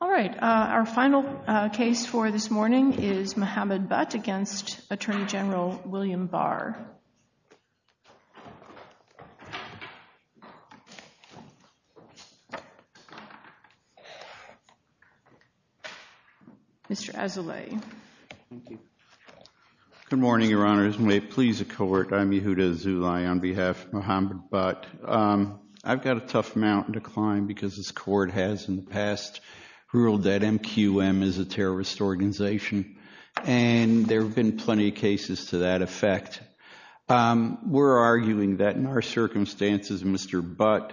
All right, our final case for this morning is Mohammed Butt against Attorney General William Barr. Mr. Azoulay. Good morning, Your Honors, and may it please the Court, I'm Yehuda Azoulay on behalf of Mohammed Butt. I've got a tough mountain to climb because this Court has in the past ruled that MQM is a terrorist organization, and there have been plenty of that effect. We're arguing that in our circumstances, Mr. Butt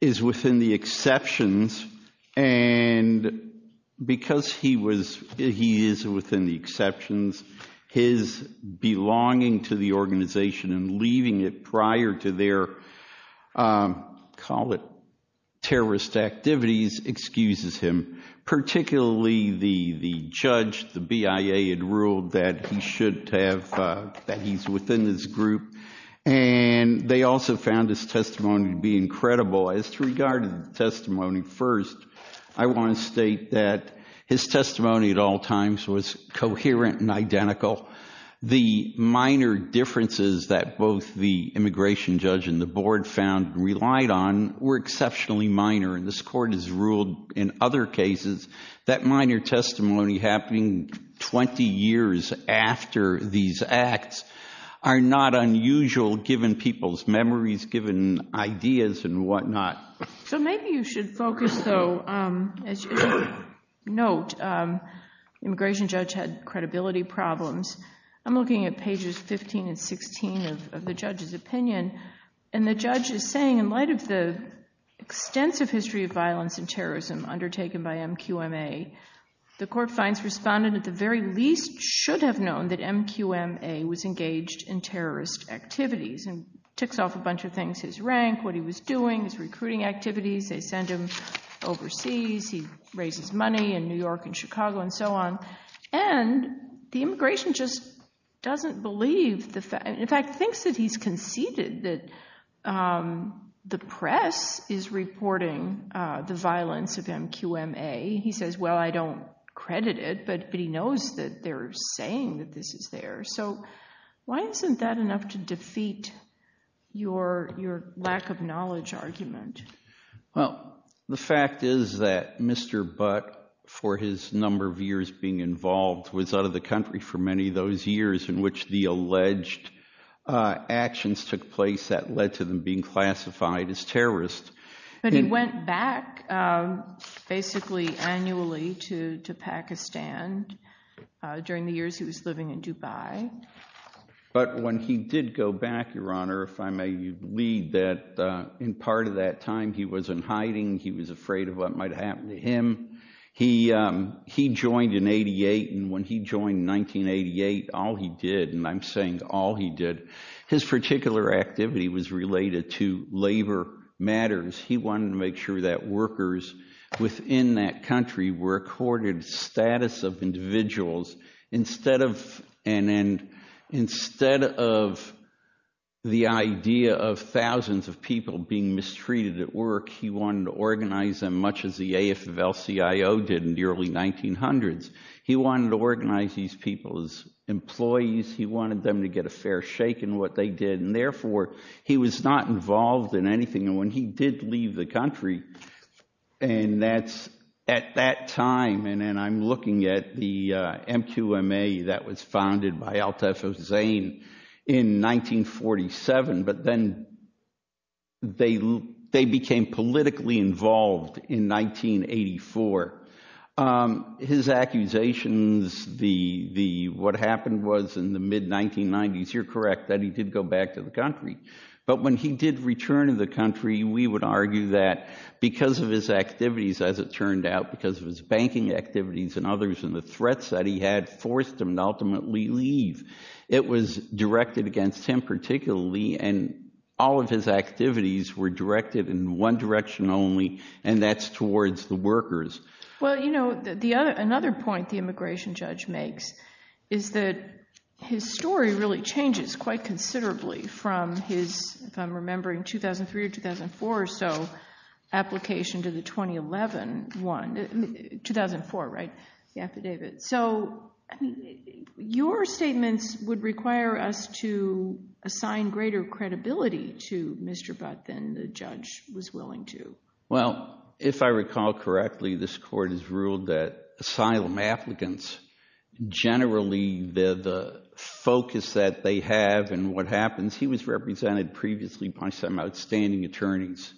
is within the exceptions, and because he was, he is within the exceptions, his belonging to the organization and leaving it prior to their, call it terrorist activities, excuses him, particularly the judge, the BIA had ruled that he should have, that he's within this group, and they also found his testimony to be incredible. As to regard to the testimony first, I want to state that his testimony at all times was coherent and identical. The minor differences that both the immigration judge and the board found and relied on were exceptionally minor, and this Court has ruled in other cases that minor testimony happening 20 years after these acts are not unusual, given people's memories, given ideas and whatnot. So maybe you should focus, though, as you note, immigration judge had credibility problems. I'm looking at pages 15 and 16 of the judge's undertaking by MQMA. The Court finds respondent at the very least should have known that MQMA was engaged in terrorist activities and ticks off a bunch of things, his rank, what he was doing, his recruiting activities, they send him overseas, he raises money in New York and Chicago and so on, and the immigration just doesn't believe the fact, in fact, thinks that he's conceited that the press is reporting the violence of MQMA. He says, well, I don't credit it, but he knows that they're saying that this is there. So why isn't that enough to defeat your lack of knowledge argument? Well, the fact is that Mr. Butt, for his number of years being involved, was out of the country for many of those years in which the alleged actions took place that led to them being classified as terrorists. But he went back basically annually to Pakistan during the years he was living in Dubai. But when he did go back, Your Honor, if I may lead that, in part of that time he was in hiding, he was afraid of what might happen to him. He joined in 88, and when he joined in 1988, all he did, and I'm saying all he did, his particular activity was related to labor matters. He wanted to make sure that workers within that country were accorded status of individuals. Instead of the idea of thousands of people being mistreated at work, he wanted to organize them much as the AFL-CIO did in the early 1900s. He wanted to organize these people as employees. He wanted them to get a fair shake in what they did, and therefore he was not involved in anything. And when he did leave the country, and that's at that time, and I'm looking at the in 1984, his accusations, what happened was in the mid-1990s, you're correct, that he did go back to the country. But when he did return to the country, we would argue that because of his activities, as it turned out, because of his banking activities and others and the threats that he had forced him to ultimately leave, it was directed against him particularly, and all of his and that's towards the workers. Well, you know, another point the immigration judge makes is that his story really changes quite considerably from his, if I'm remembering, 2003 or 2004 or so, application to the 2011 one, 2004, right, the affidavit. So, your statements would require us to assign greater credibility to Mr. Butt than the judge was willing to. Well, if I recall correctly, this court has ruled that asylum applicants, generally, the focus that they have and what happens, he was represented previously by some outstanding attorneys.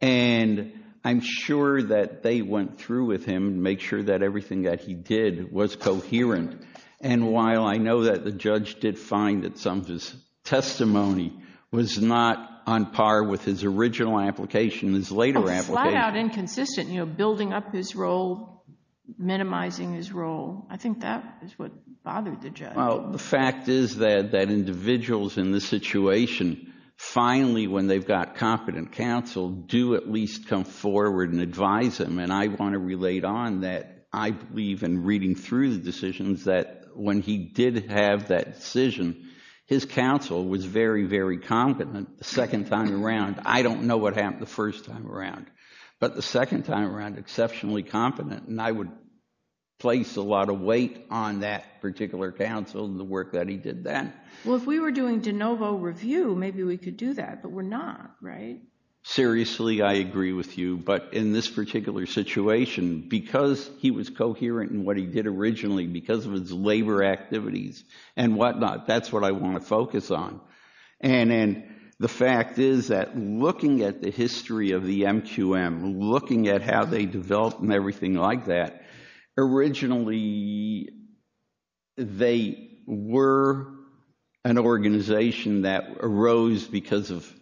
And I'm sure that they went through with him to make sure that everything that he did was coherent. And while I know that the judge did find that some of his testimony was not on par with his original application, his later application. Oh, flat out inconsistent, you know, building up his role, minimizing his role. I think that is what bothered the judge. Well, the fact is that individuals in this situation, finally, when they've got competent counsel, do at least come forward and advise him. And I want to relate on that, I believe, in reading through the decisions that when he did have that decision, his counsel was very, very competent. The second time around, I don't know what happened the first time around, but the second time around, exceptionally competent. And I would place a lot of weight on that particular counsel and the work that he did then. Well, if we were doing de novo review, maybe we could do that, but we're not, right? Seriously, I agree with you. But in this particular situation, because he was coherent in what he did originally, because of his labor activities and whatnot, that's what I want to focus on. And the fact is that looking at the history of the MQM, looking at how they developed and everything like that, originally they were an organization that arose because of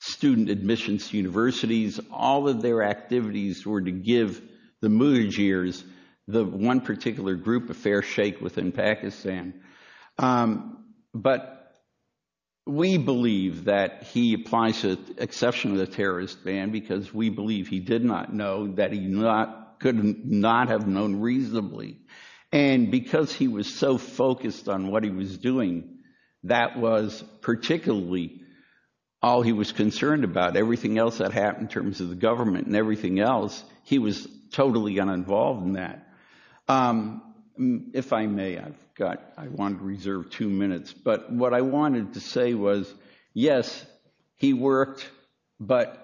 student admissions to universities. All of their students were from Afghanistan. But we believe that he applies to the exception of the terrorist ban because we believe he did not know that he could not have known reasonably. And because he was so focused on what he was doing, that was particularly all he was concerned about. Everything else that happened in terms of the government and everything else, he was totally uninvolved in that. If I may, I want to reserve two minutes. But what I wanted to say was, yes, he worked, but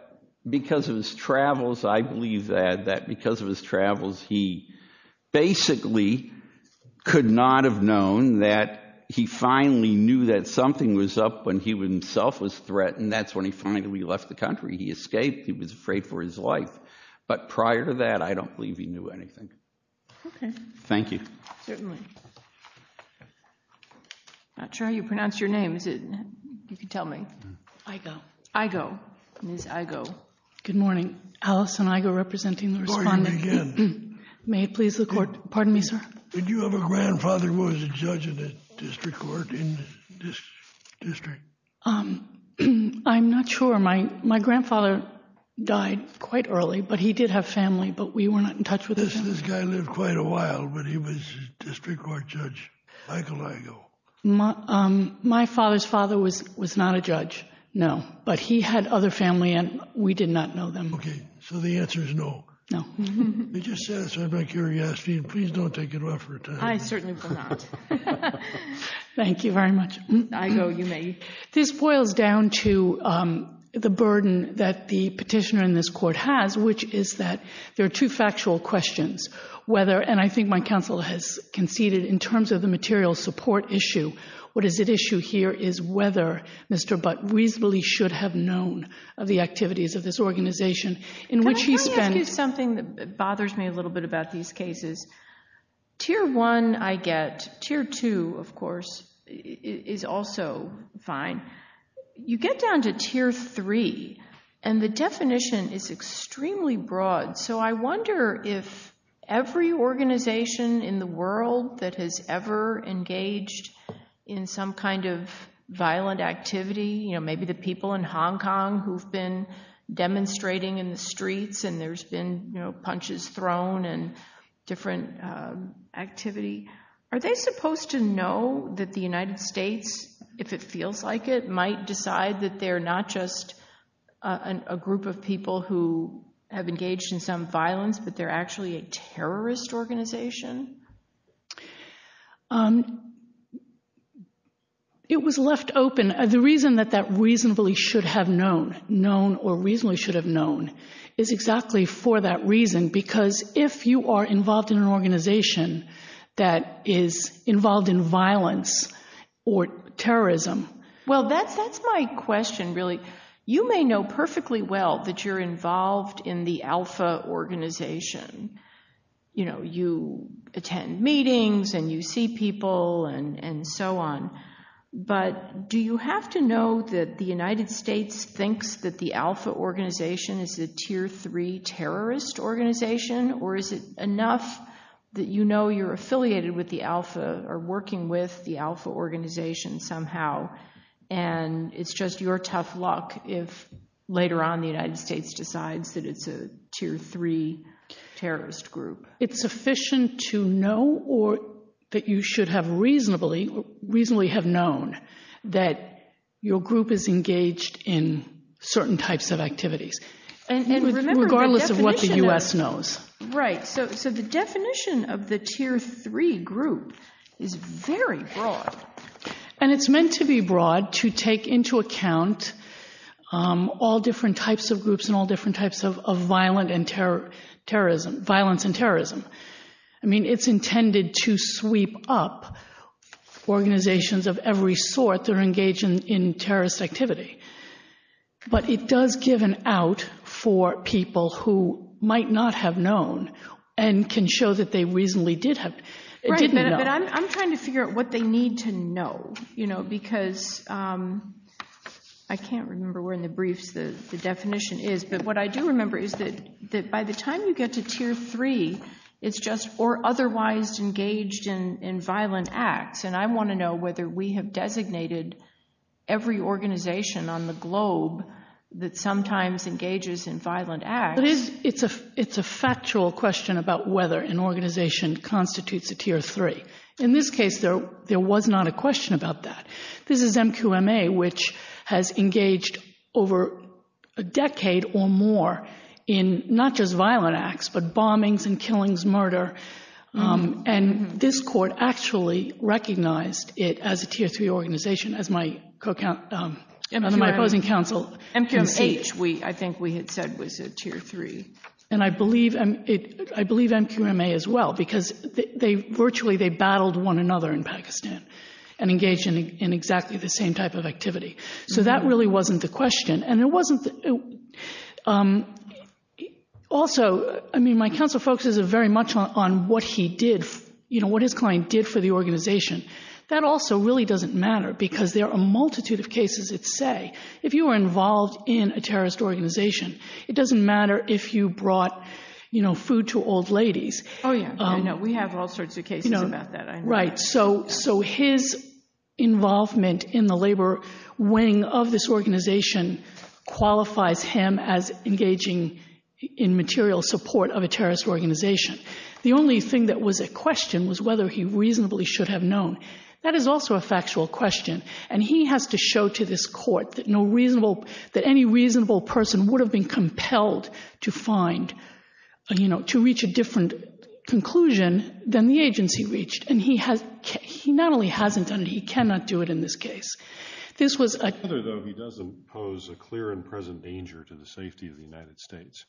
because of his travels, I believe that because of his travels, he basically could not have known that he finally knew that something was up when he himself was threatened. That's when he finally left the country. He escaped. He was afraid for his life. But prior to that, I don't believe he knew. Thank you. Certainly. I'm not sure how you pronounce your name. You can tell me. Igo. Igo. Ms. Igo. Good morning. Alison Igo representing the respondent. May it please the court. Pardon me, sir. Did you have a grandfather who was a judge in the district court? I'm not sure. My grandfather died quite early, but he did have family, but we were not in touch with him. This guy lived quite a while, but he was a district court judge. Michael Igo. My father's father was not a judge. No. But he had other family, and we did not know them. Okay. So the answer is no. No. I'm just curious. Please don't take it off for a time. I certainly will not. Thank you very much. Igo, you may. This boils down to the burden that the questions, whether, and I think my counsel has conceded in terms of the material support issue, what is at issue here is whether Mr. Butt reasonably should have known of the activities of this organization. Can I ask you something that bothers me a little bit about these cases? Tier one, I get. Tier two, of course, is also fine. You get down to tier three, and the definition is extremely broad. So I wonder if every organization in the world that has ever engaged in some kind of violent activity, maybe the people in Hong Kong who've been demonstrating in the streets and there's been punches thrown and different activity, are they supposed to know that the United States, if it feels like it, might decide that they're not just a group of people who have engaged in some violence, but they're actually a terrorist organization? It was left open. The reason that that reasonably should have known, known or reasonably should have known, is exactly for that reason. Because if you are involved in You may know perfectly well that you're involved in the alpha organization. You attend meetings and you see people and so on, but do you have to know that the United States thinks that the alpha organization is a tier three terrorist organization, or is it enough that you know you're affiliated with the alpha or working with the alpha organization somehow, and it's just your tough luck if later on the United States decides that it's a tier three terrorist group? It's sufficient to know or that you should have reasonably have known that your group is engaged in certain types of activities, regardless of what the U.S. knows. Right, so the definition of the tier three group is very broad. And it's meant to be broad to take into account all different types of groups and all different types of violence and terrorism. I mean, it's intended to sweep up organizations of every sort that are engaged in terrorist activity, but it does give an out for people who might not have known and can show that they reasonably did have. I'm trying to figure out what they need to know, because I can't remember where in the briefs the definition is, but what I do remember is that by the time you get to tier three, it's just or otherwise engaged in violent acts. And I want to know whether we have designated every organization on the globe that sometimes engages in violent acts. It's a factual question about whether an organization constitutes a tier three. In this case, there was not a question about that. This is MQMA, which has engaged over a decade or more in not just violent acts, but bombings and killings, murder. And this court actually recognized it as a tier three organization, as my opposing counsel. MQMH, I think we had said, was a tier three. And I believe MQMA as well, because virtually they battled one another in Pakistan and engaged in exactly the same type of activity. So that really wasn't the question. Also, my counsel focuses very much on what his client did for the organization. That also really doesn't matter, because there are a multitude of cases that say, if you were involved in a terrorist organization, it doesn't matter if you brought food to old ladies. We have all sorts of cases about that. So his involvement in the labor wing of this organization qualifies him as engaging in material support of a terrorist organization. The only thing that was a question was whether he reasonably should have known. That is also a factual question. And he has to show to this court that any reasonable person would have been compelled to reach a different conclusion than the agency reached. And he not only hasn't done it, he cannot do it in this case. This was a... However, though, he does impose a clear and present danger to the safety of the United States.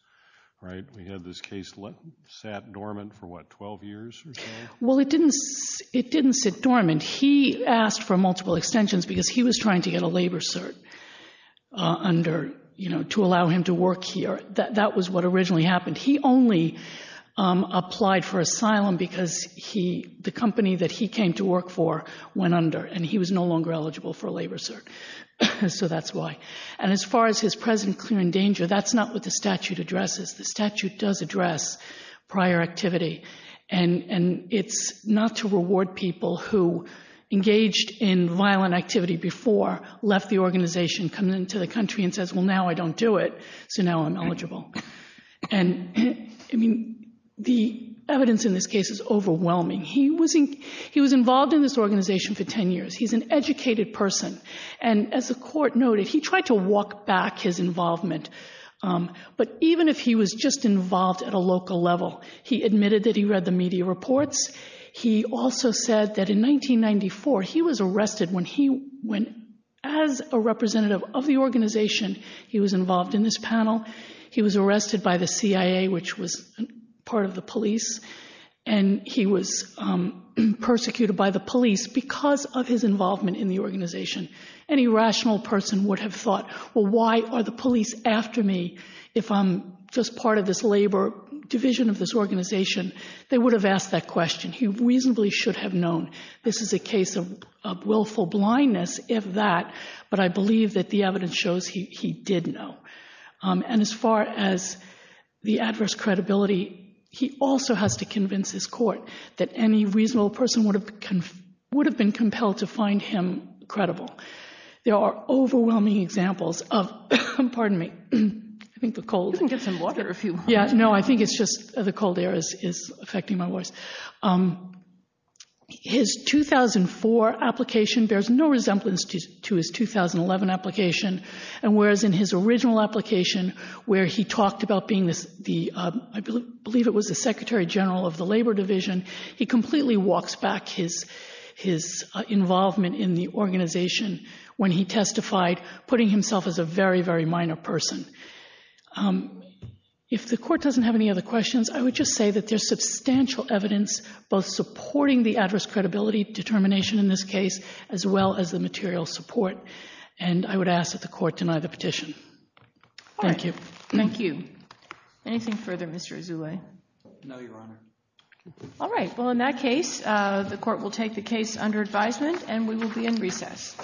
Right? We had this case sat dormant for, what, 12 years or so? Well, it didn't sit dormant. He asked for multiple extensions because he was trying to get a labor cert to allow him to work here. That was what originally happened. He only applied for asylum because the company that he came to work for went under and he was no longer eligible for a labor cert. So that's why. And as far as his present clear and danger, that's not what the statute addresses. The statute does address prior activity. And it's not to reward people who engaged in violent activity before, left the organization, come into the country and says, now I don't do it, so now I'm eligible. And the evidence in this case is overwhelming. He was involved in this organization for 10 years. He's an educated person. And as the court noted, he tried to walk back his involvement. But even if he was just involved at a local level, he admitted that he read the media reports. He also said that in 1994, he was arrested when as a representative of the organization, he was involved in this panel. He was arrested by the CIA, which was part of the police. And he was persecuted by the police because of his involvement in the organization. Any rational person would have thought, well, why are the police after me if I'm just part of this labor division of this organization? They would have asked that question. He reasonably should have known. This is a case of willful blindness, if that. But I believe that the evidence shows he did know. And as far as the adverse credibility, he also has to convince his court that any reasonable person would have been compelled to find him credible. There are overwhelming examples of, pardon me, I think the cold. You can get some water if you want. No, I think it's just the cold air is affecting my voice. His 2004 application bears no resemblance to his 2011 application. And whereas in his original application, where he talked about being the, I believe it was the secretary general of the labor division, he completely walks back his involvement in the organization when he testified, putting himself as a very, very minor person. If the court doesn't have any other questions, I would just say that there's substantial evidence, both supporting the adverse credibility determination in this case, as well as the material support. And I would ask that the court deny the petition. Thank you. All right. Thank you. Anything further, Mr. Azoulay? No, Your Honor. All right. Well, in that case, the court will take the case under advisement, and we will be in recess.